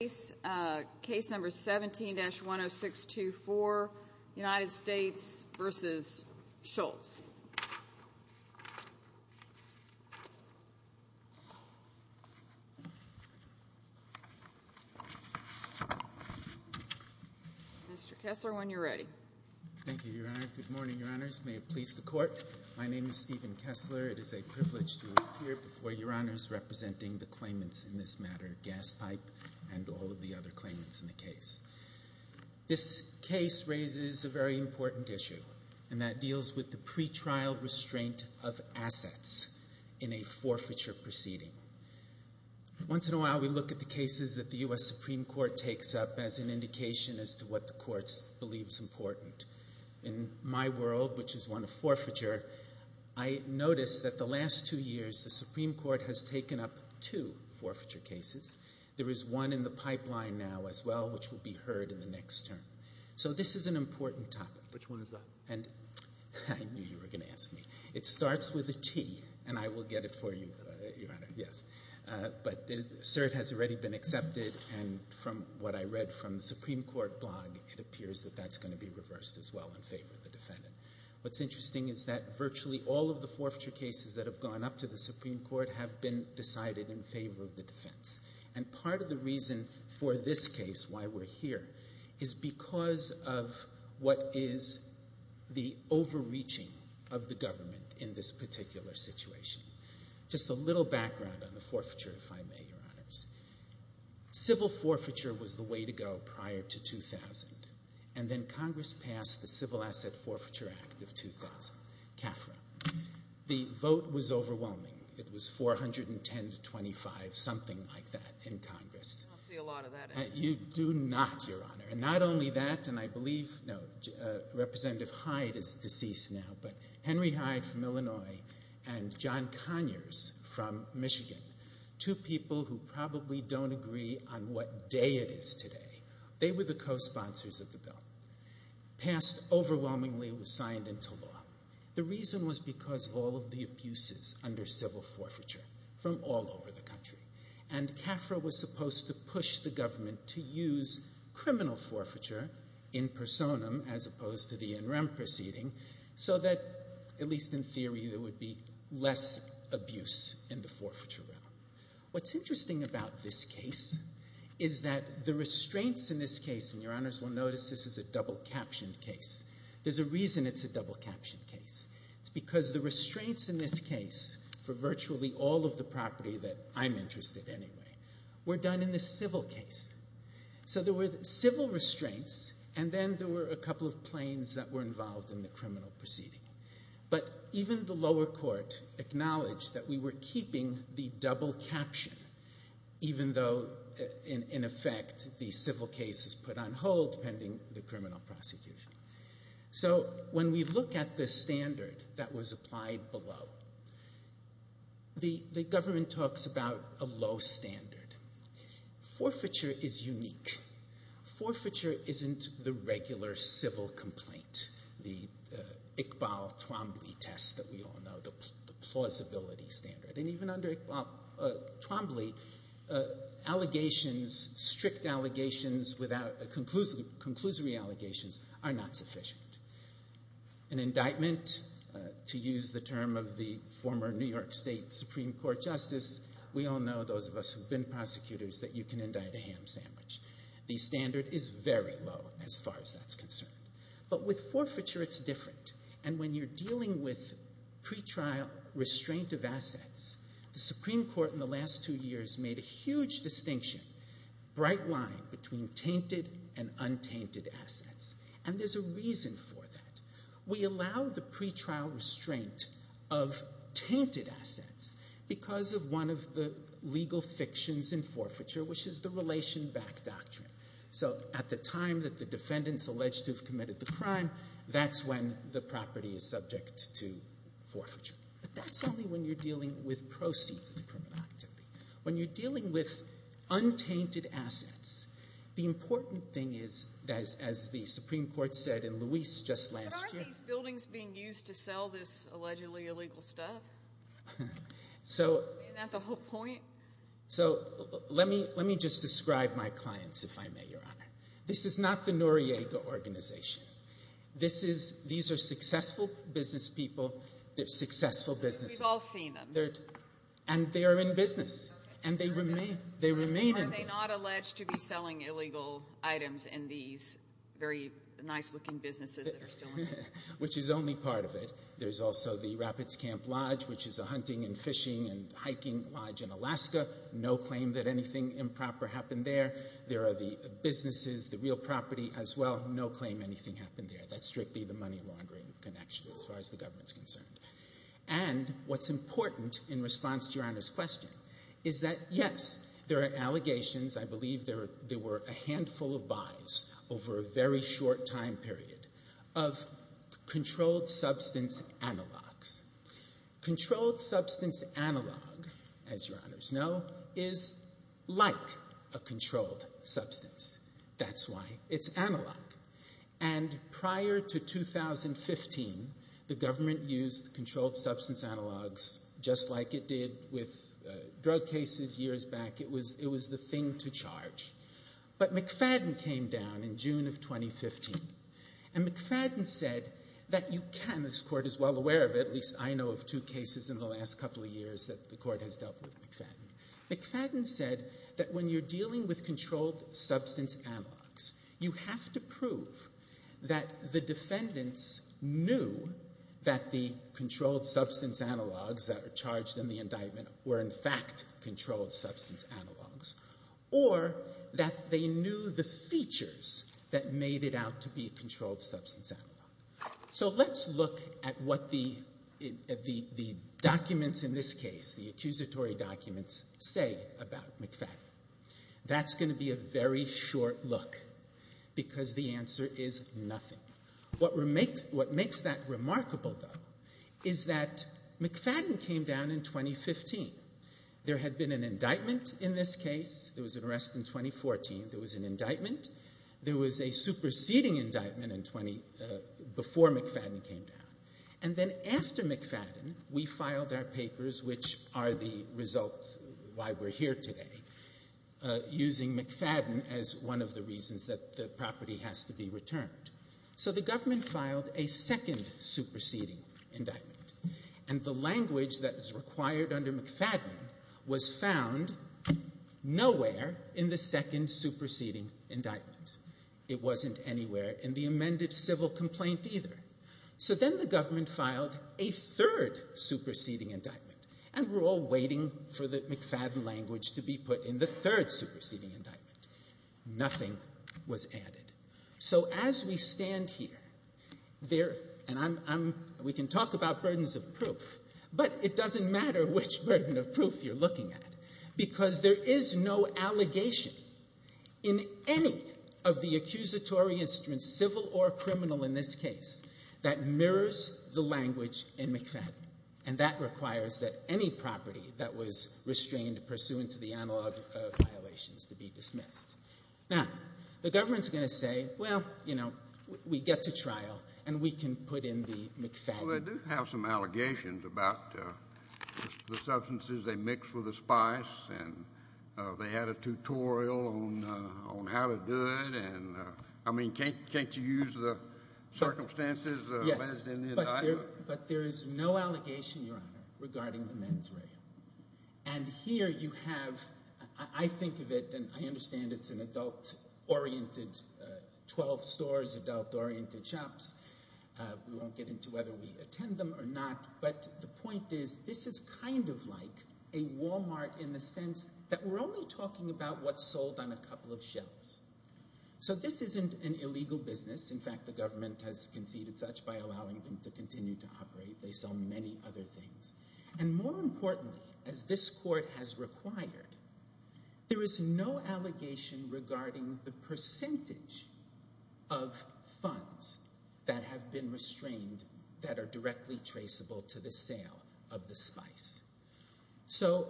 Case number 17-10624, United States v. Schultz. Mr. Kessler, when you're ready. Thank you, Your Honor. Good morning, Your Honors. May it please the Court, my name is Stephen Kessler. It is a privilege to appear before Your Honors representing the claimants in this matter, Gaspipe and all of the other claimants in the case. This case raises a very important issue, and that deals with the pretrial restraint of assets in a forfeiture proceeding. Once in a while we look at the cases that the U.S. Supreme Court takes up as an indication as to what the courts believe is important. In my world, which is one of forfeiture, I noticed that the last two years the Supreme Court has taken up two forfeiture cases. There is one in the pipeline now as well, which will be heard in the next term. So this is an important topic. Which one is that? I knew you were going to ask me. It starts with a T, and I will get it for you, Your Honor. Yes. But cert has already been accepted, and from what I read from the Supreme Court blog, it appears that that's going to be reversed as well in favor of the defendant. What's interesting is that virtually all of the forfeiture cases that have gone up to the Supreme Court have been decided in favor of the defense. And part of the reason for this case, why we're here, is because of what is the overreaching of the government in this particular situation. Just a little background on the forfeiture, if I may, Your Honors. Civil forfeiture was the way to go prior to 2000, and then Congress passed the Civil Asset Forfeiture Act of 2000, CAFRA. The vote was overwhelming. It was 410 to 25, something like that, in Congress. I don't see a lot of that happening. You do not, Your Honor. And not only that, and I believe Representative Hyde is deceased now, but Henry Hyde from Illinois and John Conyers from Michigan, two people who probably don't agree on what day it is today, they were the cosponsors of the bill. Passed overwhelmingly, was signed into law. The reason was because of all of the abuses under civil forfeiture from all over the country, and CAFRA was supposed to push the government to use criminal forfeiture in personam as opposed to the in rem proceeding, so that, at least in theory, there would be less abuse in the forfeiture realm. What's interesting about this case is that the restraints in this case, and Your Honors will notice this is a double-captioned case. There's a reason it's a double-captioned case. It's because the restraints in this case for virtually all of the property that I'm interested in anyway were done in the civil case. So there were civil restraints, and then there were a couple of planes that were involved in the criminal proceeding. But even the lower court acknowledged that we were keeping the double-caption, even though, in effect, the civil case is put on hold pending the criminal prosecution. So when we look at the standard that was applied below, the government talks about a low standard. Forfeiture is unique. Forfeiture isn't the regular civil complaint, the Iqbal Twombly test that we all know, the plausibility standard. And even under Iqbal Twombly, allegations, strict allegations, conclusory allegations are not sufficient. An indictment, to use the term of the former New York State Supreme Court Justice, we all know, those of us who've been prosecutors, that you can indict a ham sandwich. The standard is very low as far as that's concerned. But with forfeiture, it's different. And when you're dealing with pretrial restraint of assets, the Supreme Court in the last two years made a huge distinction, bright line between tainted and untainted assets. And there's a reason for that. We allow the pretrial restraint of tainted assets because of one of the legal fictions in forfeiture, which is the relation back doctrine. So at the time that the defendants alleged to have committed the crime, that's when the property is subject to forfeiture. But that's only when you're dealing with proceeds of the criminal activity. When you're dealing with untainted assets, the important thing is, as the Supreme Court said in Luis just last year – But aren't these buildings being used to sell this allegedly illegal stuff? So – Isn't that the whole point? So let me just describe my clients, if I may, Your Honor. This is not the Noriega Organization. These are successful business people. They're successful businesses. We've all seen them. And they are in business. And they remain in business. Are they not alleged to be selling illegal items in these very nice-looking businesses that are still in business? Which is only part of it. There's also the Rapids Camp Lodge, which is a hunting and fishing and hiking lodge in Alaska. No claim that anything improper happened there. There are the businesses, the real property as well. No claim anything happened there. That's strictly the money laundering connection as far as the government's concerned. And what's important in response to Your Honor's question is that, yes, there are allegations. I believe there were a handful of buys over a very short time period of controlled substance analogs. Controlled substance analog, as Your Honors know, is like a controlled substance. That's why it's analog. And prior to 2015, the government used controlled substance analogs just like it did with drug cases years back. It was the thing to charge. But McFadden came down in June of 2015. And McFadden said that you can, this Court is well aware of it, at least I know of two cases in the last couple of years that the Court has dealt with McFadden. McFadden said that when you're dealing with controlled substance analogs, you have to prove that the defendants knew that the controlled substance analogs that are charged in the indictment were in fact controlled substance analogs, or that they knew the features that made it out to be a controlled substance analog. So let's look at what the documents in this case, the accusatory documents, say about McFadden. That's going to be a very short look because the answer is nothing. What makes that remarkable, though, is that McFadden came down in 2015. There had been an indictment in this case. There was an arrest in 2014. There was an indictment. There was a superseding indictment before McFadden came down. And then after McFadden, we filed our papers, which are the result why we're here today, using McFadden as one of the reasons that the property has to be returned. So the government filed a second superseding indictment. And the language that is required under McFadden was found nowhere in the second superseding indictment. It wasn't anywhere in the amended civil complaint either. So then the government filed a third superseding indictment. And we're all waiting for the McFadden language to be put in the third superseding indictment. Nothing was added. So as we stand here, there, and I'm, we can talk about burdens of proof, but it doesn't matter which burden of proof you're looking at because there is no allegation in any of the accusatory instruments, civil or criminal in this case, that mirrors the language in McFadden. And that requires that any property that was restrained pursuant to the analog of violations to be dismissed. Now, the government's going to say, well, you know, we get to trial and we can put in the McFadden. Well, they do have some allegations about the substances they mixed with the spice, and they had a tutorial on how to do it. And I mean, can't you use the circumstances? Yes, but there is no allegation, Your Honor, regarding the men's rail. And here you have, I think of it, and I understand it's an adult-oriented, 12 stores, adult-oriented shops. We won't get into whether we attend them or not, but the point is this is kind of like a Walmart in the sense that we're only talking about what's sold on a couple of shelves. So this isn't an illegal business. In fact, the government has conceded such by allowing them to continue to operate. They sell many other things. And more importantly, as this court has required, there is no allegation regarding the percentage of funds that have been restrained that are directly traceable to the sale of the spice. So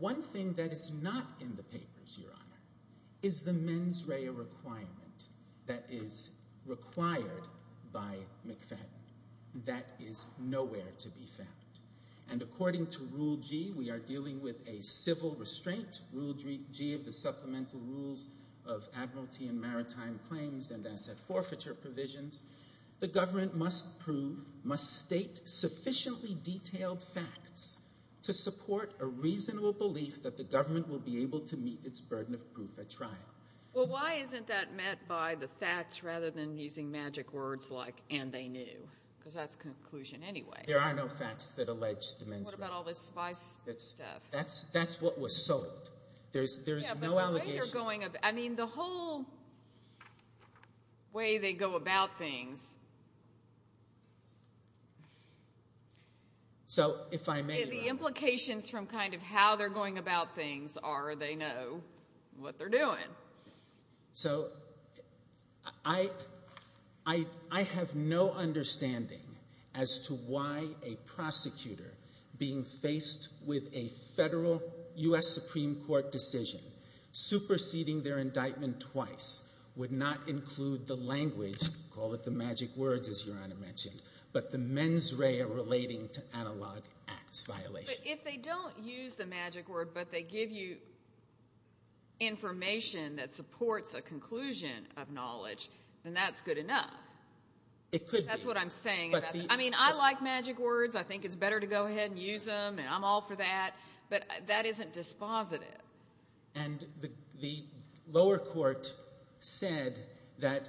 one thing that is not in the papers, Your Honor, is the men's rail requirement that is required by McFadden that is nowhere to be found. And according to Rule G, we are dealing with a civil restraint. Rule G of the Supplemental Rules of Admiralty and Maritime Claims and Asset Forfeiture Provisions, the government must prove, must state sufficiently detailed facts to support a reasonable belief that the government will be able to meet its burden of proof at trial. Well, why isn't that met by the facts rather than using magic words like, and they knew? Because that's a conclusion anyway. There are no facts that allege the men's rail. What about all this spice stuff? That's what was sold. There's no allegation. Yeah, but the way they're going about it. I mean, the whole way they go about things. So if I may, Your Honor. The implications from kind of how they're going about things are they know what they're doing. So I have no understanding as to why a prosecutor being faced with a federal U.S. Supreme Court decision superseding their indictment twice would not include the language, call it the magic words, as Your Honor mentioned, but the men's rail relating to analog acts violations. But if they don't use the magic word but they give you information that supports a conclusion of knowledge, then that's good enough. It could be. That's what I'm saying. I mean, I like magic words. I think it's better to go ahead and use them, and I'm all for that. But that isn't dispositive. And the lower court said that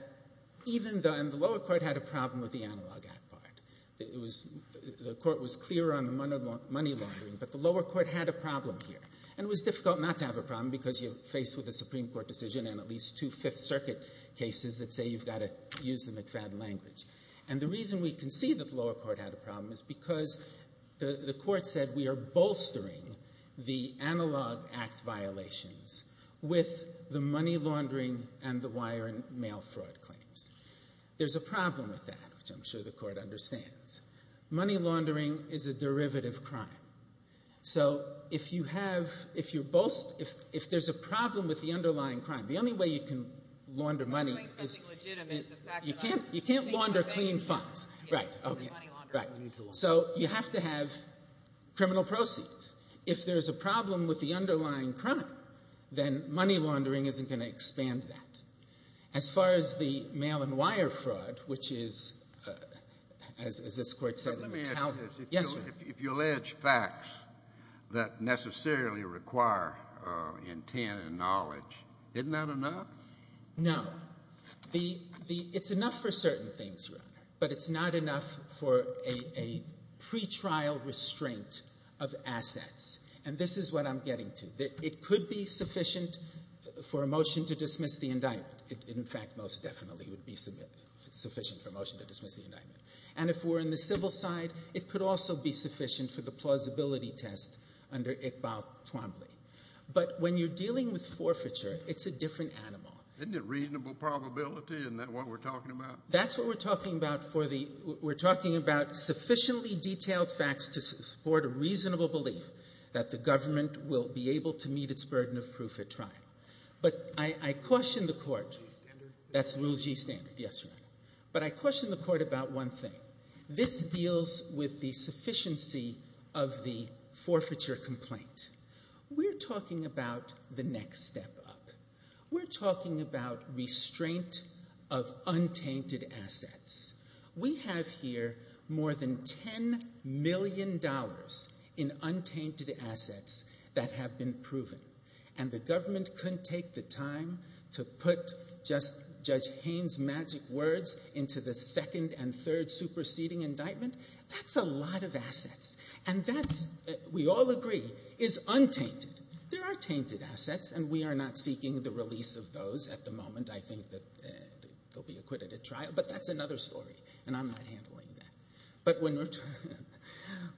even the lower court had a problem with the analog act part. The court was clear on the money laundering, but the lower court had a problem here. And it was difficult not to have a problem because you're faced with a Supreme Court decision and at least two Fifth Circuit cases that say you've got to use the McFadden language. And the reason we can see that the lower court had a problem is because the court said we are bolstering the analog act violations with the money laundering and the wire and mail fraud claims. There's a problem with that, which I'm sure the court understands. Money laundering is a derivative crime. So if you have – if you're – if there's a problem with the underlying crime, the only way you can launder money is – By doing something legitimate. You can't launder clean funds. Right. So you have to have criminal proceeds. If there's a problem with the underlying crime, then money laundering isn't going to expand that. As far as the mail and wire fraud, which is, as this Court said, a metallic – Let me ask you this. Yes, sir. If you allege facts that necessarily require intent and knowledge, isn't that enough? No. It's enough for certain things, Your Honor, but it's not enough for a pretrial restraint of assets. And this is what I'm getting to. It could be sufficient for a motion to dismiss the indictment. In fact, most definitely it would be sufficient for a motion to dismiss the indictment. And if we're in the civil side, it could also be sufficient for the plausibility test under Iqbal Twombly. But when you're dealing with forfeiture, it's a different animal. Isn't it reasonable probability? Isn't that what we're talking about? That's what we're talking about for the – we're talking about sufficiently detailed facts to support a reasonable belief that the government will be able to meet its burden of proof at trial. But I question the Court – Rule G standard? That's Rule G standard, yes, Your Honor. But I question the Court about one thing. This deals with the sufficiency of the forfeiture complaint. We're talking about the next step up. We're talking about restraint of untainted assets. We have here more than $10 million in untainted assets that have been proven. And the government couldn't take the time to put just Judge Haines' magic words into the second and third superseding indictment? That's a lot of assets. And that's, we all agree, is untainted. There are tainted assets, and we are not seeking the release of those at the moment. I think that they'll be acquitted at trial. But that's another story, and I'm not handling that.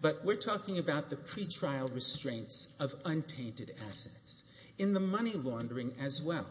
But we're talking about the pretrial restraints of untainted assets. In the money laundering as well,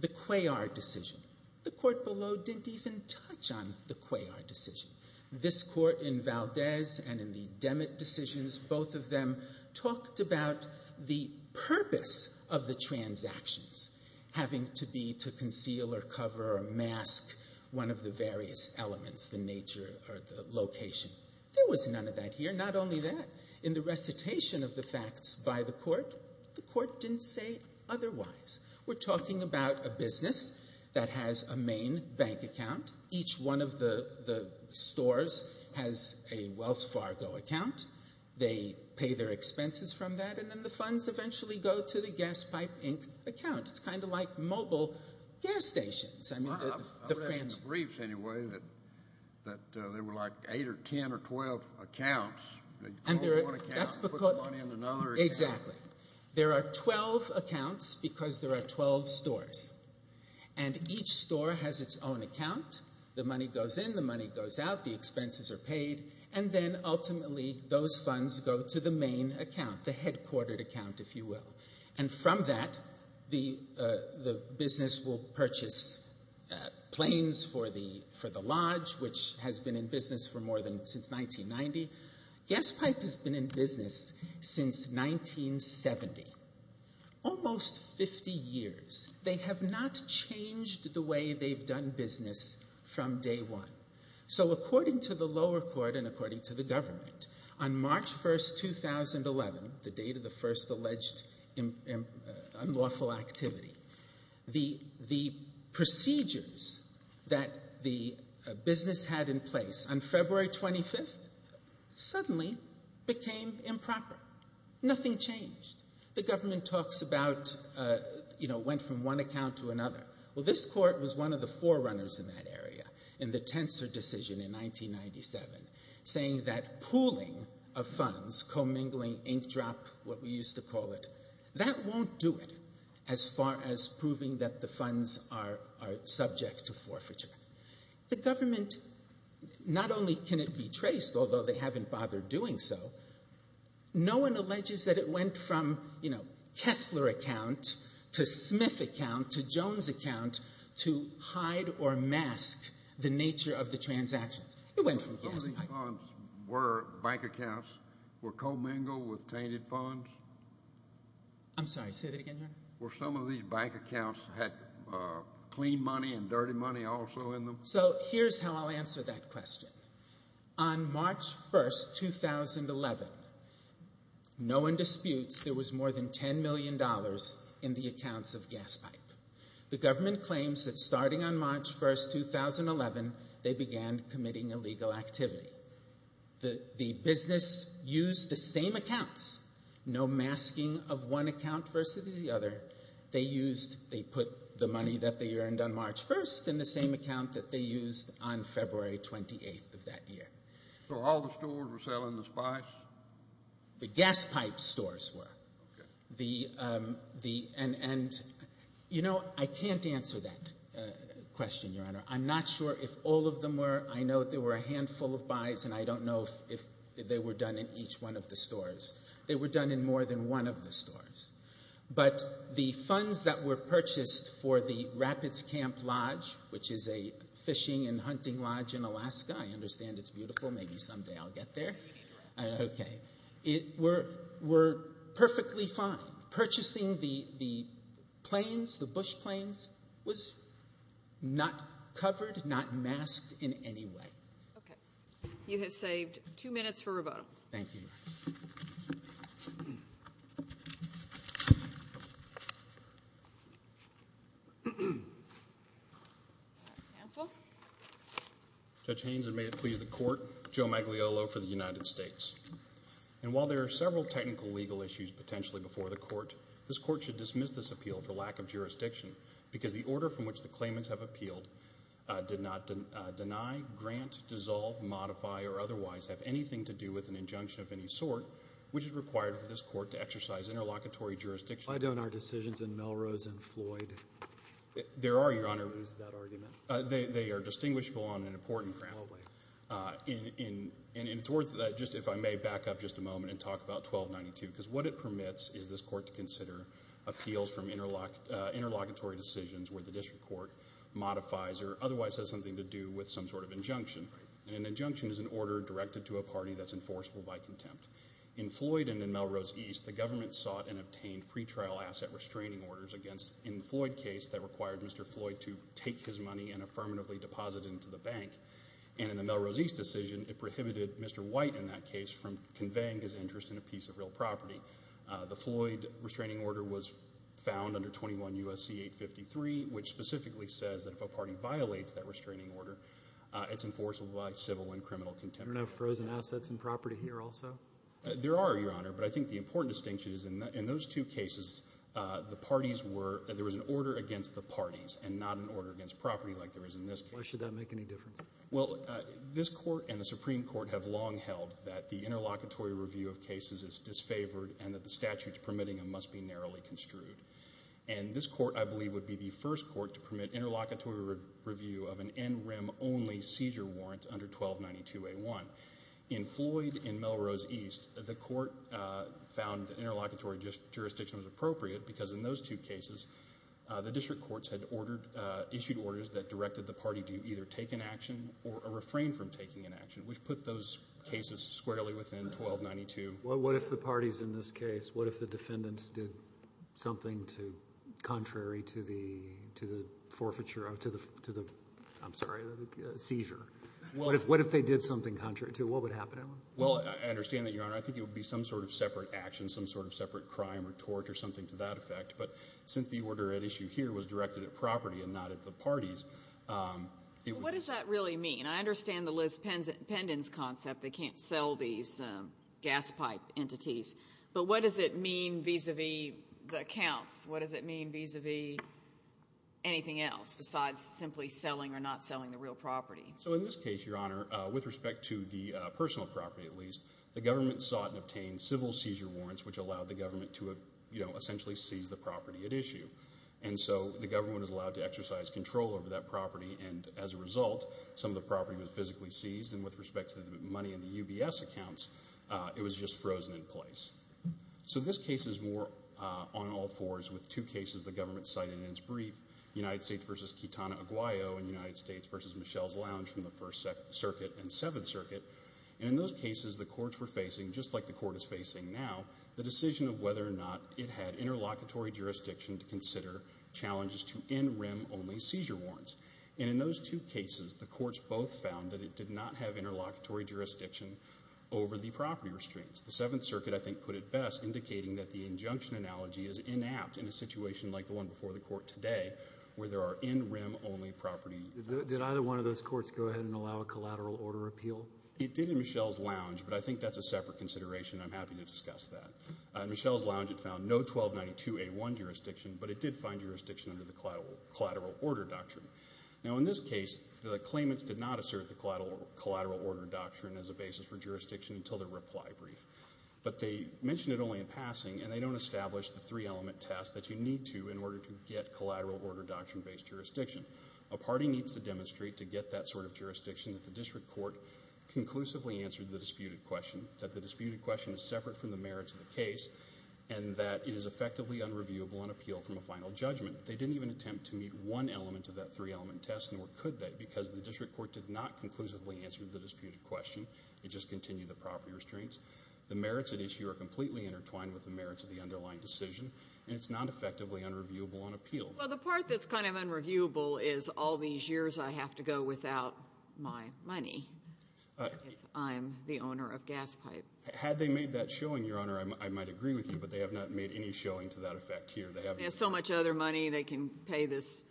the Cuellar decision, the court below didn't even touch on the Cuellar decision. This court in Valdez and in the Demet decisions, both of them talked about the purpose of the transactions having to be to conceal or cover or mask one of the various elements, the nature or the location. There was none of that here, not only that. In the recitation of the facts by the court, the court didn't say otherwise. We're talking about a business that has a main bank account. Each one of the stores has a Wells Fargo account. They pay their expenses from that, and then the funds eventually go to the Gas Pipe, Inc. account. It's kind of like mobile gas stations. I mean, the fancy. I read in the briefs anyway that there were like eight or ten or twelve accounts. They call one account and put the money in another account. Exactly. There are twelve accounts because there are twelve stores, and each store has its own account. The money goes in, the money goes out, the expenses are paid, and then ultimately those funds go to the main account, the headquartered account, if you will. And from that, the business will purchase planes for the Lodge, which has been in business since 1990. Gas Pipe has been in business since 1970. Almost 50 years. They have not changed the way they've done business from day one. So according to the lower court and according to the government, on March 1, 2011, the date of the first alleged unlawful activity, the procedures that the business had in place on February 25 suddenly became improper. Nothing changed. The government talks about, you know, went from one account to another. Well, this court was one of the forerunners in that area in the Tenser decision in 1997, saying that pooling of funds, commingling, ink drop, what we used to call it, that won't do it as far as proving that the funds are subject to forfeiture. The government, not only can it be traced, although they haven't bothered doing so, no one alleges that it went from, you know, Kessler account to Smith account to Jones account to hide or mask the nature of the transactions. It went from Kessler. Were bank accounts, were commingle with tainted funds? I'm sorry, say that again, Your Honor. Were some of these bank accounts had clean money and dirty money also in them? So here's how I'll answer that question. On March 1, 2011, no one disputes there was more than $10 million in the accounts of gas pipe. The government claims that starting on March 1, 2011, they began committing illegal activity. The business used the same accounts, no masking of one account versus the other. They used, they put the money that they earned on March 1st in the same account that they used on February 28th of that year. So all the stores were selling the buys? The gas pipe stores were. Okay. And, you know, I can't answer that question, Your Honor. I'm not sure if all of them were. I know there were a handful of buys, and I don't know if they were done in each one of the stores. They were done in more than one of the stores. But the funds that were purchased for the Rapids Camp Lodge, which is a fishing and hunting lodge in Alaska, I understand it's beautiful, maybe someday I'll get there. Okay. It were perfectly fine. Purchasing the planes, the bush planes, was not covered, not masked in any way. Okay. Thank you, Your Honor. Thank you. Counsel? Judge Haynes, and may it please the Court, Joe Magliolo for the United States. And while there are several technical legal issues potentially before the Court, this Court should dismiss this appeal for lack of jurisdiction because the order from which the claimants have appealed did not deny, grant, dissolve, modify, or otherwise have anything to do with an injunction of any sort, which is required for this Court to exercise interlocutory jurisdiction. Why don't our decisions in Melrose and Floyd? There are, Your Honor. Why don't we use that argument? They are distinguishable on an important ground. Probably. And towards that, just if I may back up just a moment and talk about 1292, because what it permits is this Court to consider appeals from interlocutory decisions where the district court modifies or otherwise has something to do with some sort of injunction. An injunction is an order directed to a party that's enforceable by contempt. In Floyd and in Melrose East, the government sought and obtained pretrial asset restraining orders against, in the Floyd case, that required Mr. Floyd to take his money and affirmatively deposit it into the bank. And in the Melrose East decision, it prohibited Mr. White, in that case, from conveying his interest in a piece of real property. The Floyd restraining order was found under 21 U.S.C. 853, which specifically says that if a party violates that restraining order, it's enforceable by civil and criminal contempt. There are no frozen assets and property here also? There are, Your Honor, but I think the important distinction is in those two cases, the parties were, there was an order against the parties and not an order against property like there is in this case. Why should that make any difference? Well, this court and the Supreme Court have long held that the interlocutory review of cases is disfavored and that the statutes permitting them must be narrowly construed. And this court, I believe, would be the first court to permit interlocutory review of an NREM-only seizure warrant under 1292A1. In Floyd and Melrose East, the court found interlocutory jurisdiction was appropriate because in those two cases, the district courts had issued orders that directed the party to either take an action or a refrain from taking an action, which put those cases squarely within 1292. Well, what if the parties in this case, what if the defendants did something contrary to the seizure? What if they did something contrary to it? What would happen to them? Well, I understand that, Your Honor. I think it would be some sort of separate action, some sort of separate crime or tort or something to that effect. But since the order at issue here was directed at property and not at the parties, it would be the same. Well, what does that really mean? I understand the Liz Pendon's concept. They can't sell these gas pipe entities. But what does it mean vis-à-vis the accounts? What does it mean vis-à-vis anything else besides simply selling or not selling the real property? So in this case, Your Honor, with respect to the personal property at least, the government sought and obtained civil seizure warrants, which allowed the government to essentially seize the property at issue. And so the government was allowed to exercise control over that property. And as a result, some of the property was physically seized. And with respect to the money in the UBS accounts, it was just frozen in place. So this case is more on all fours with two cases the government cited in its brief, United States v. Kitana Aguayo and United States v. Michelle's Lounge from the First Circuit and Seventh Circuit. And in those cases, the courts were facing, just like the court is facing now, the decision of whether or not it had interlocutory jurisdiction to consider challenges to in rem only seizure warrants. And in those two cases, the courts both found that it did not have interlocutory jurisdiction over the property restraints. The Seventh Circuit, I think, put it best, indicating that the injunction analogy is inapt in a situation like the one before the court today where there are in rem only property restraints. Did either one of those courts go ahead and allow a collateral order appeal? It did in Michelle's Lounge, but I think that's a separate consideration. I'm happy to discuss that. In Michelle's Lounge, it found no 1292A1 jurisdiction, but it did find jurisdiction under the collateral order doctrine. Now, in this case, the claimants did not assert the collateral order doctrine as a basis for jurisdiction until their reply brief. But they mentioned it only in passing, and they don't establish the three-element test that you need to in order to get collateral order doctrine-based jurisdiction. A party needs to demonstrate to get that sort of jurisdiction that the district court conclusively answered the disputed question, that the disputed question is separate from the merits of the case, and that it is effectively unreviewable on appeal from a final judgment. They didn't even attempt to meet one element of that three-element test, nor could they, because the district court did not conclusively answer the disputed question. It just continued the property restraints. The merits at issue are completely intertwined with the merits of the underlying decision, and it's not effectively unreviewable on appeal. Well, the part that's kind of unreviewable is all these years I have to go without my money if I'm the owner of Gaspipe. Had they made that showing, Your Honor, I might agree with you, but they have not made any showing to that effect here. They haven't. They have so much other money they can pay this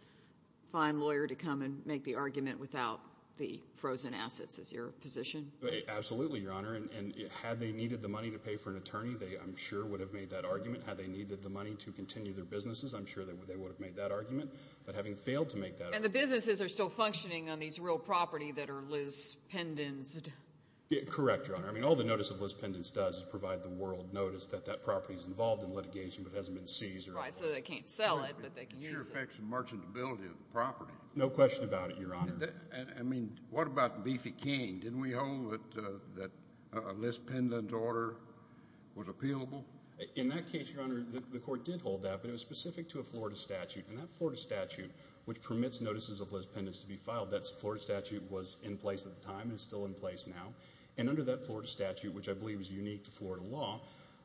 fine lawyer to come and make the argument without the frozen assets. Is your position? Absolutely, Your Honor. And had they needed the money to pay for an attorney, they, I'm sure, would have made that argument. Had they needed the money to continue their businesses, I'm sure they would have made that argument. But having failed to make that argument. And the businesses are still functioning on these real property that are Liz Pendens-ed. Correct, Your Honor. I mean, all the notice of Liz Pendens does is provide the world notice that that property is involved in litigation but hasn't been seized. Right. So they can't sell it, but they can use it. It affects the merchantability of the property. No question about it, Your Honor. I mean, what about Beefy King? Didn't we hold that a Liz Pendens order was appealable? In that case, Your Honor, the court did hold that, but it was specific to a Florida statute. And that Florida statute, which permits notices of Liz Pendens to be filed, that Florida statute was in place at the time and is still in place now. And under that Florida statute, which I believe is unique to Florida law,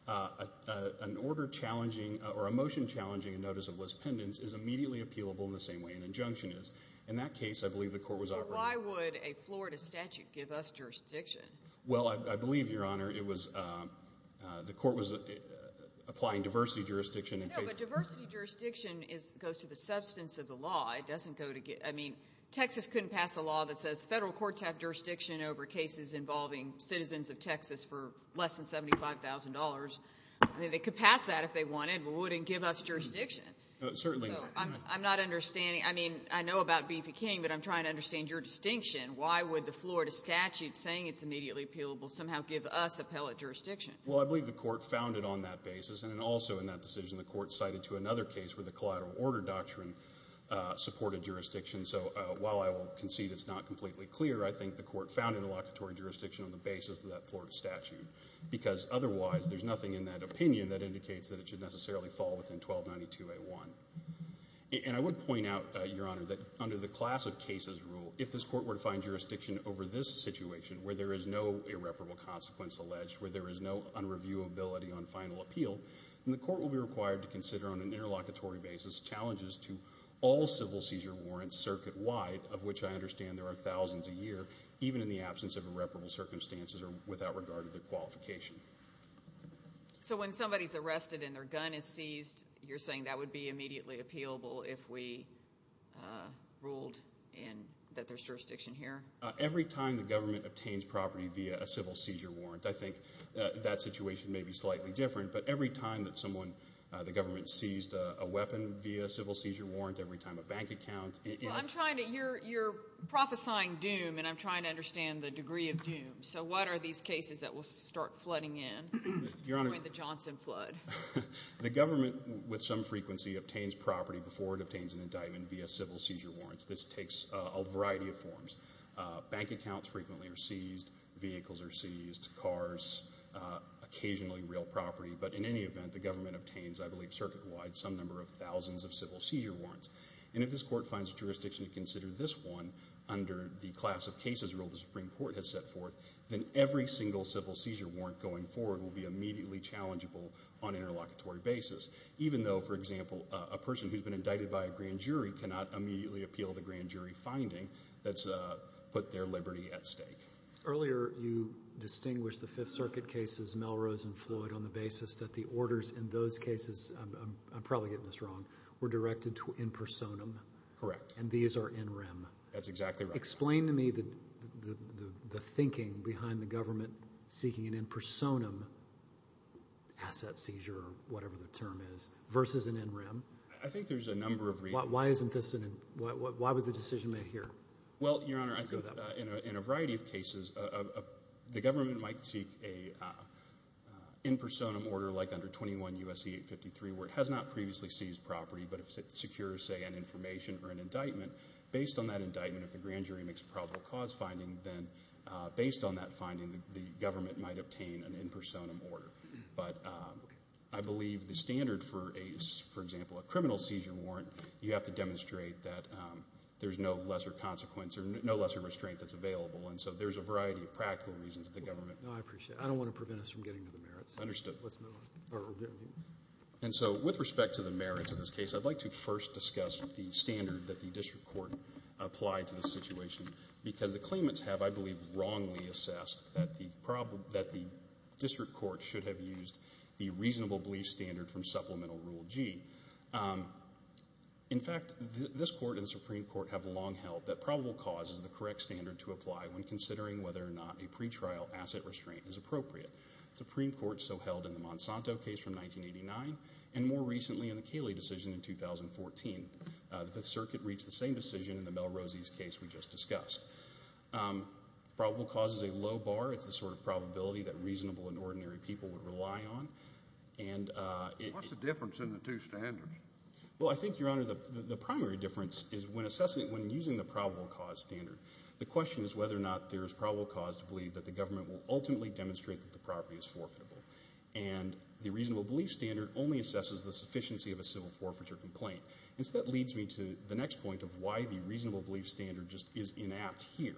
an order challenging or a motion challenging a notice of Liz Pendens is immediately appealable in the same way an injunction is. In that case, I believe the court was operating. Why would a Florida statute give us jurisdiction? Well, I believe, Your Honor, it was the court was applying diversity jurisdiction in case. No, but diversity jurisdiction goes to the substance of the law. It doesn't go to get – I mean, Texas couldn't pass a law that says federal courts have jurisdiction over cases involving citizens of Texas for less than $75,000. I mean, they could pass that if they wanted, but it wouldn't give us jurisdiction. Certainly not. So I'm not understanding. I mean, I know about Beefy King, but I'm trying to understand your distinction. Why would the Florida statute saying it's immediately appealable somehow give us appellate jurisdiction? Well, I believe the court found it on that basis, and also in that decision the court cited to another case where the collateral order doctrine supported jurisdiction. So while I will concede it's not completely clear, I think the court found interlocutory jurisdiction on the basis of that Florida statute because otherwise there's nothing in that opinion that indicates that it should necessarily fall within 1292A1. And I would point out, Your Honor, that under the class of cases rule, if this court were to find jurisdiction over this situation where there is no unreviewability on final appeal, then the court will be required to consider on an interlocutory basis challenges to all civil seizure warrants circuit-wide, of which I understand there are thousands a year, even in the absence of irreparable circumstances or without regard to their qualification. So when somebody's arrested and their gun is seized, you're saying that would be immediately appealable if we ruled that there's jurisdiction here? Every time the government obtains property via a civil seizure warrant. I think that situation may be slightly different, but every time that someone, the government, seized a weapon via a civil seizure warrant, every time a bank account is used. Well, you're prophesying doom and I'm trying to understand the degree of doom. So what are these cases that will start flooding in during the Johnson flood? The government, with some frequency, obtains property before it obtains an indictment via civil seizure warrants. Bank accounts frequently are seized. Vehicles are seized. Cars, occasionally real property. But in any event, the government obtains, I believe, circuit-wide some number of thousands of civil seizure warrants. And if this court finds jurisdiction to consider this one under the class of cases rule the Supreme Court has set forth, then every single civil seizure warrant going forward will be immediately challengeable on an interlocutory basis, even though, for example, a person who's been indicted by a grand jury cannot immediately appeal the grand jury finding that's put their liberty at stake. Earlier you distinguished the Fifth Circuit cases, Melrose and Floyd, on the basis that the orders in those cases, I'm probably getting this wrong, were directed to in personam. Correct. And these are in rem. That's exactly right. Explain to me the thinking behind the government seeking an in personam asset seizure, or whatever the term is, versus an in rem. I think there's a number of reasons. Why was the decision made here? Well, Your Honor, in a variety of cases, the government might seek an in personam order, like under 21 U.S.C. 853, where it has not previously seized property, but it secures, say, an information or an indictment. Based on that indictment, if the grand jury makes a probable cause finding, then based on that finding the government might obtain an in personam order. But I believe the standard for, for example, a criminal seizure warrant, you have to demonstrate that there's no lesser consequence or no lesser restraint that's available. And so there's a variety of practical reasons that the government. No, I appreciate it. I don't want to prevent us from getting to the merits. Understood. And so with respect to the merits of this case, I'd like to first discuss the standard that the district court applied to this situation, because the claimants have, I believe, wrongly assessed that the district court should have used the reasonable belief standard from supplemental rule G. In fact, this court and the Supreme Court have long held that probable cause is the correct standard to apply when considering whether or not a pretrial asset restraint is appropriate. The Supreme Court so held in the Monsanto case from 1989, and more recently in the Cayley decision in 2014. The circuit reached the same decision in the Melroses case we just discussed. Probable cause is a low bar. It's the sort of probability that reasonable and ordinary people would rely on. What's the difference in the two standards? Well, I think, Your Honor, the primary difference is when assessing it, when using the probable cause standard, the question is whether or not there is probable cause to believe that the government will ultimately demonstrate that the property is forfeitable. And the reasonable belief standard only assesses the sufficiency of a civil forfeiture complaint. And so that leads me to the next point of why the reasonable belief standard just is inapt here,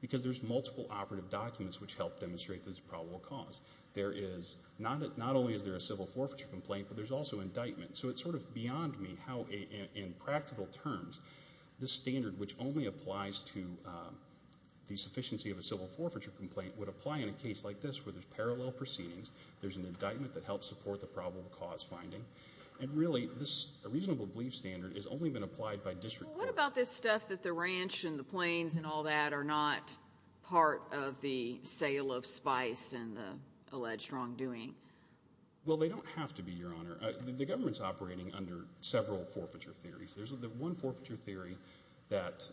because there's multiple operative documents which help demonstrate there's a probable cause. There is not only is there a civil forfeiture complaint, but there's also indictment. So it's sort of beyond me how in practical terms this standard, which only applies to the sufficiency of a civil forfeiture complaint, would apply in a case like this where there's parallel proceedings, there's an indictment that helps support the probable cause finding, and really this reasonable belief standard has only been applied by district courts. Well, what about this stuff that the ranch and the planes and all that are not part of the sale of spice and the alleged wrongdoing? Well, they don't have to be, Your Honor. The government's operating under several forfeiture theories. There's the one forfeiture theory that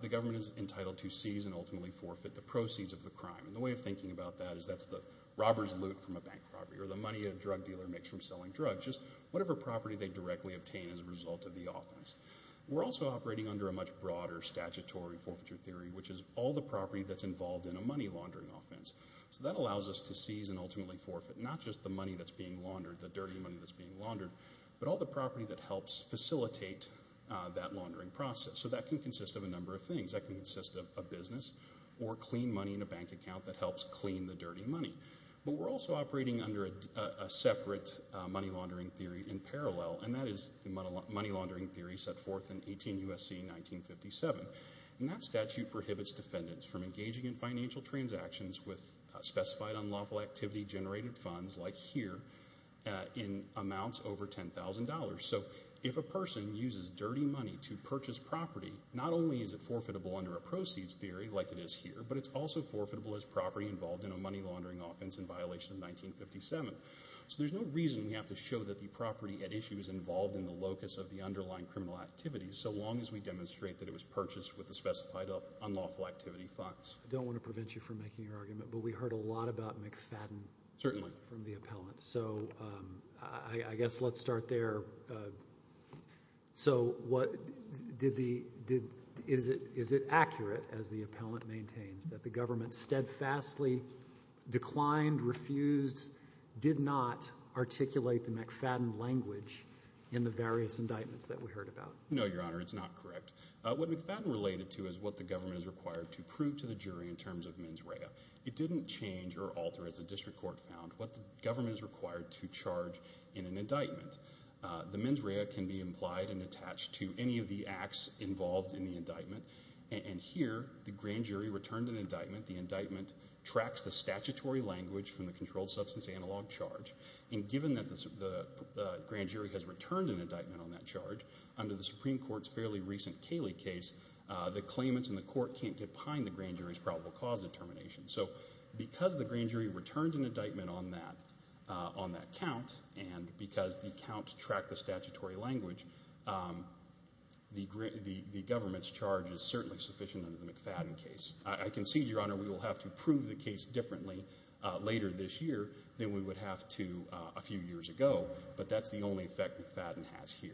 the government is entitled to seize and ultimately forfeit the proceeds of the crime. And the way of thinking about that is that's the robber's loot from a bank property or the money a drug dealer makes from selling drugs, just whatever property they directly obtain as a result of the offense. We're also operating under a much broader statutory forfeiture theory, which is all the property that's involved in a money laundering offense. So that allows us to seize and ultimately forfeit not just the money that's being laundered, the dirty money that's being laundered, but all the property that helps facilitate that laundering process. So that can consist of a number of things. That can consist of a business or clean money in a bank account that helps clean the dirty money. But we're also operating under a separate money laundering theory in parallel, and that is the money laundering theory set forth in 18 U.S.C. 1957. And that statute prohibits defendants from engaging in financial transactions with specified unlawful activity generated funds like here in amounts over $10,000. So if a person uses dirty money to purchase property, not only is it forfeitable under a proceeds theory like it is here, but it's also forfeitable as property involved in a money laundering offense in violation of 1957. So there's no reason we have to show that the property at issue is involved in the locus of the underlying criminal activities so long as we demonstrate that it was purchased with the specified unlawful activity funds. I don't want to prevent you from making your argument, but we heard a lot about McFadden from the appellant. So I guess let's start there. So is it accurate, as the appellant maintains, that the government steadfastly declined, refused, did not articulate the McFadden language in the various indictments that we heard about? No, Your Honor, it's not correct. What McFadden related to is what the government is required to prove to the jury in terms of mens rea. It didn't change or alter, as the district court found, what the government is required to charge in an indictment. The mens rea can be implied and attached to any of the acts involved in the indictment, and here the grand jury returned an indictment. The indictment tracks the statutory language from the controlled substance analog charge, and given that the grand jury has returned an indictment on that charge, under the Supreme Court's fairly recent Cayley case, the claimants in the court can't get behind the grand jury's probable cause determination. So because the grand jury returned an indictment on that count and because the count tracked the statutory language, the government's charge is certainly sufficient under the McFadden case. I concede, Your Honor, we will have to prove the case differently later this year than we would have to a few years ago, but that's the only effect McFadden has here.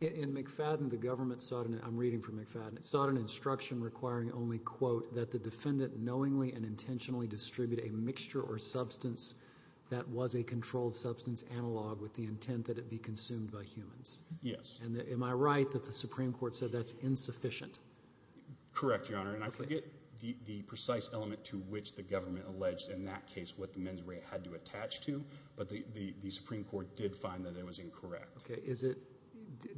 In McFadden, the government sought an instruction requiring only, quote, that the defendant knowingly and intentionally distribute a mixture or substance that was a controlled substance analog with the intent that it be consumed by humans. Yes. Am I right that the Supreme Court said that's insufficient? Correct, Your Honor. And I forget the precise element to which the government alleged in that case what the men's rate had to attach to, but the Supreme Court did find that it was incorrect. Okay.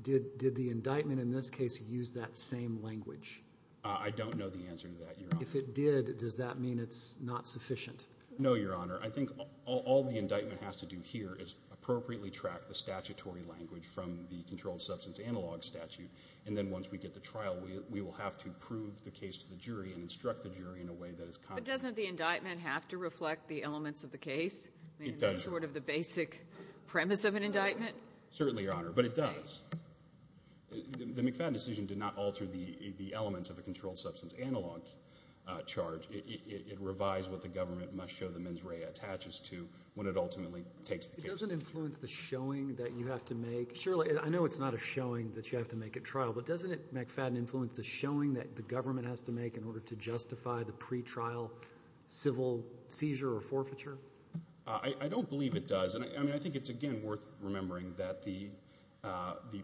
Did the indictment in this case use that same language? I don't know the answer to that, Your Honor. If it did, does that mean it's not sufficient? No, Your Honor. I think all the indictment has to do here is appropriately track the statutory language from the controlled substance analog statute, and then once we get the trial, we will have to prove the case to the jury and instruct the jury in a way that is concrete. But doesn't the indictment have to reflect the elements of the case? It does. Short of the basic premise of an indictment? Certainly, Your Honor, but it does. The McFadden decision did not alter the elements of a controlled substance analog charge. It revised what the government must show the men's rate attaches to when it ultimately takes the case. It doesn't influence the showing that you have to make. Surely. I know it's not a showing that you have to make at trial, but doesn't it, McFadden, influence the showing that the government has to make in order to justify the pretrial civil seizure or forfeiture? I don't believe it does. I mean, I think it's, again, worth remembering that the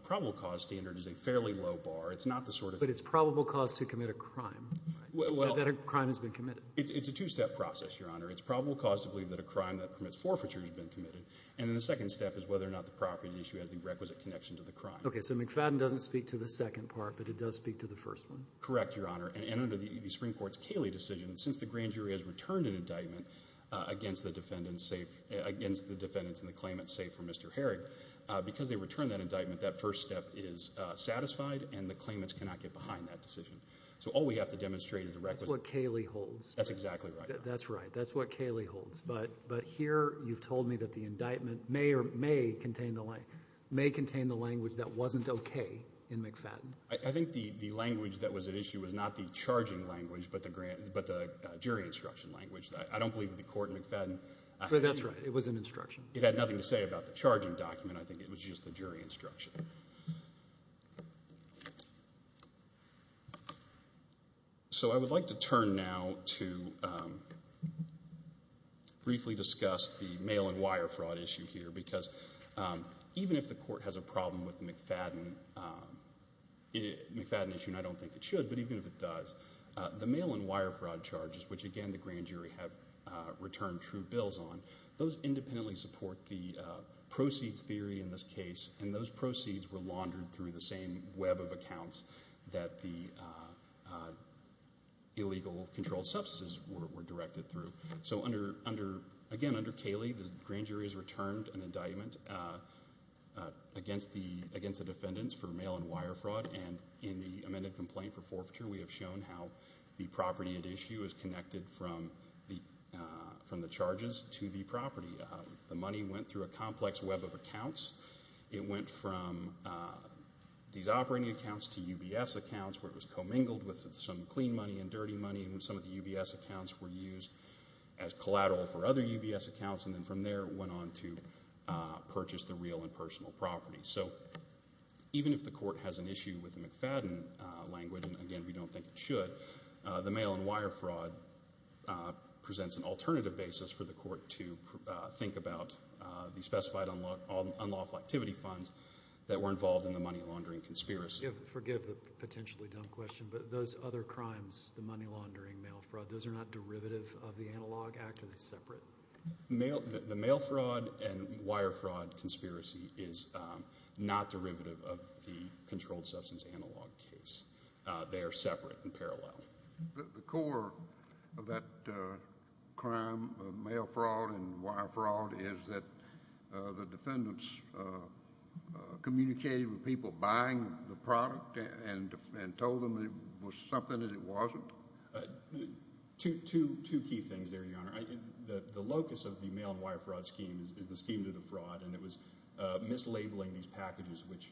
probable cause standard is a fairly low bar. It's not the sort of— But it's probable cause to commit a crime, that a crime has been committed. It's a two-step process, Your Honor. It's probable cause to believe that a crime that permits forfeiture has been committed, and then the second step is whether or not the property issue has the requisite connection to the crime. Okay, so McFadden doesn't speak to the second part, but it does speak to the first one. Correct, Your Honor, and under the Supreme Court's Cayley decision, since the grand jury has returned an indictment against the defendants in the claimant's safe for Mr. Herrig, because they returned that indictment, that first step is satisfied, and the claimants cannot get behind that decision. So all we have to demonstrate is the requisite— That's what Cayley holds. That's exactly right. That's right. That's what Cayley holds. But here you've told me that the indictment may contain the language that wasn't okay in McFadden. I think the language that was at issue was not the charging language, but the jury instruction language. I don't believe that the court in McFadden— That's right. It was an instruction. It had nothing to say about the charging document. I think it was just the jury instruction. So I would like to turn now to briefly discuss the mail-and-wire fraud issue here, because even if the court has a problem with the McFadden issue, and I don't think it should, but even if it does, the mail-and-wire fraud charges, which, again, the grand jury have returned true bills on, those independently support the proceeds theory in this case, and those proceeds were laundered through the same web of accounts that the illegal controlled substances were directed through. So, again, under Cayley, the grand jury has returned an indictment against the defendants for mail-and-wire fraud, and in the amended complaint for forfeiture, we have shown how the property at issue is connected from the charges to the property. It went from these operating accounts to UBS accounts, where it was commingled with some clean money and dirty money, and some of the UBS accounts were used as collateral for other UBS accounts, and then from there it went on to purchase the real and personal property. So even if the court has an issue with the McFadden language, and, again, we don't think it should, the mail-and-wire fraud presents an alternative basis for the court to think about the specified unlawful activity funds that were involved in the money laundering conspiracy. Forgive the potentially dumb question, but those other crimes, the money laundering, mail fraud, those are not derivative of the Analog Act? Are they separate? The mail fraud and wire fraud conspiracy is not derivative of the controlled substance analog case. They are separate and parallel. The core of that crime, mail fraud and wire fraud, is that the defendants communicated with people buying the product and told them it was something that it wasn't? Two key things there, Your Honor. The locus of the mail-and-wire fraud scheme is the scheme to the fraud, and it was mislabeling these packages which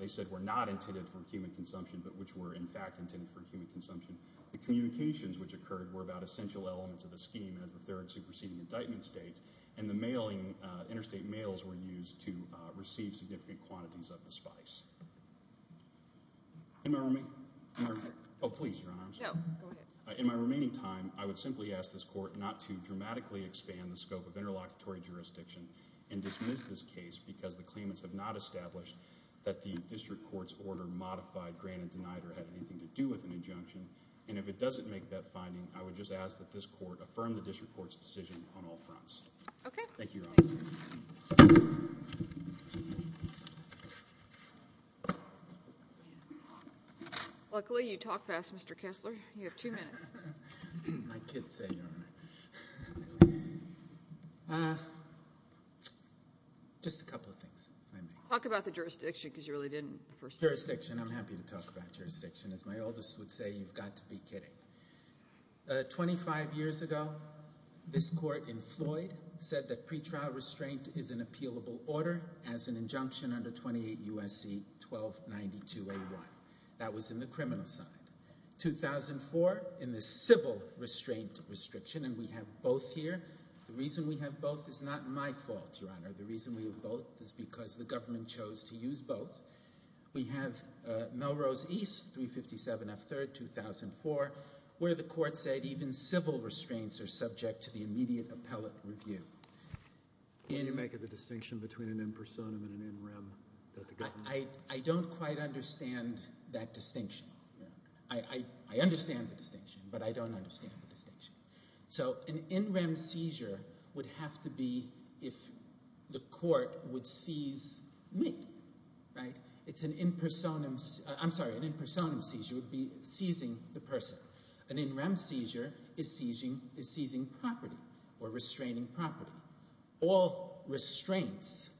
they said were not intended for human consumption but which were, in fact, intended for human consumption. The communications which occurred were about essential elements of the scheme, as the third superseding indictment states, and the interstate mails were used to receive significant quantities of the spice. In my remaining time, I would simply ask this Court not to dramatically expand the scope of interlocutory jurisdiction and dismiss this case because the claimants have not established that the district court's order modified, granted, denied, or had anything to do with an injunction. And if it doesn't make that finding, I would just ask that this Court affirm the district court's decision on all fronts. Okay. Thank you, Your Honor. Luckily you talk fast, Mr. Kessler. You have two minutes. That's what my kids say, Your Honor. Just a couple of things, if I may. Talk about the jurisdiction because you really didn't the first time. Jurisdiction. I'm happy to talk about jurisdiction. As my oldest would say, you've got to be kidding. Twenty-five years ago, this Court in Floyd said that pretrial restraint is an appealable order as an injunction under 28 U.S.C. 1292A1. That was in the criminal side. 2004, in the civil restraint restriction, and we have both here. The reason we have both is not my fault, Your Honor. The reason we have both is because the government chose to use both. We have Melrose East 357F3rd, 2004, where the Court said even civil restraints are subject to the immediate appellate review. Can you make a distinction between an impersonum and an in rem? I don't quite understand that distinction. I understand the distinction, but I don't understand the distinction. So an in rem seizure would have to be if the Court would seize me, right? It's an impersonum. I'm sorry. An impersonum seizure would be seizing the person. An in rem seizure is seizing property or restraining property. All restraints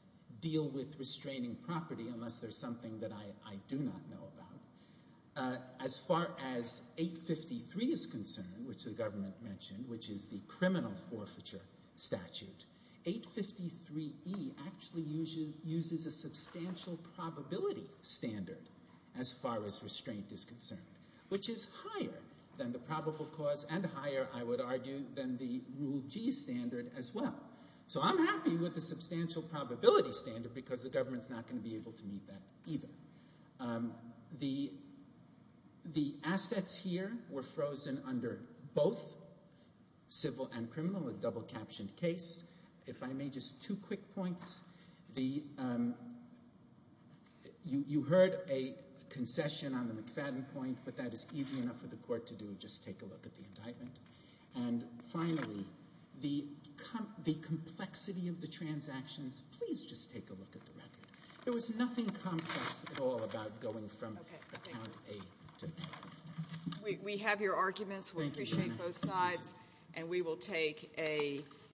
deal with restraining property unless there's something that I do not know about. As far as 853 is concerned, which the government mentioned, which is the criminal forfeiture statute, 853E actually uses a substantial probability standard as far as restraint is concerned, which is higher than the probable cause and higher, I would argue, than the Rule G standard as well. So I'm happy with the substantial probability standard because the government is not going to be able to meet that either. The assets here were frozen under both civil and criminal, a double captioned case. If I may, just two quick points. You heard a concession on the McFadden point, but that is easy enough for the Court to do. Just take a look at the indictment. And finally, the complexity of the transactions, please just take a look at the record. There was nothing complex at all about going from account A to account B. We have your arguments. We appreciate both sides. And we will take a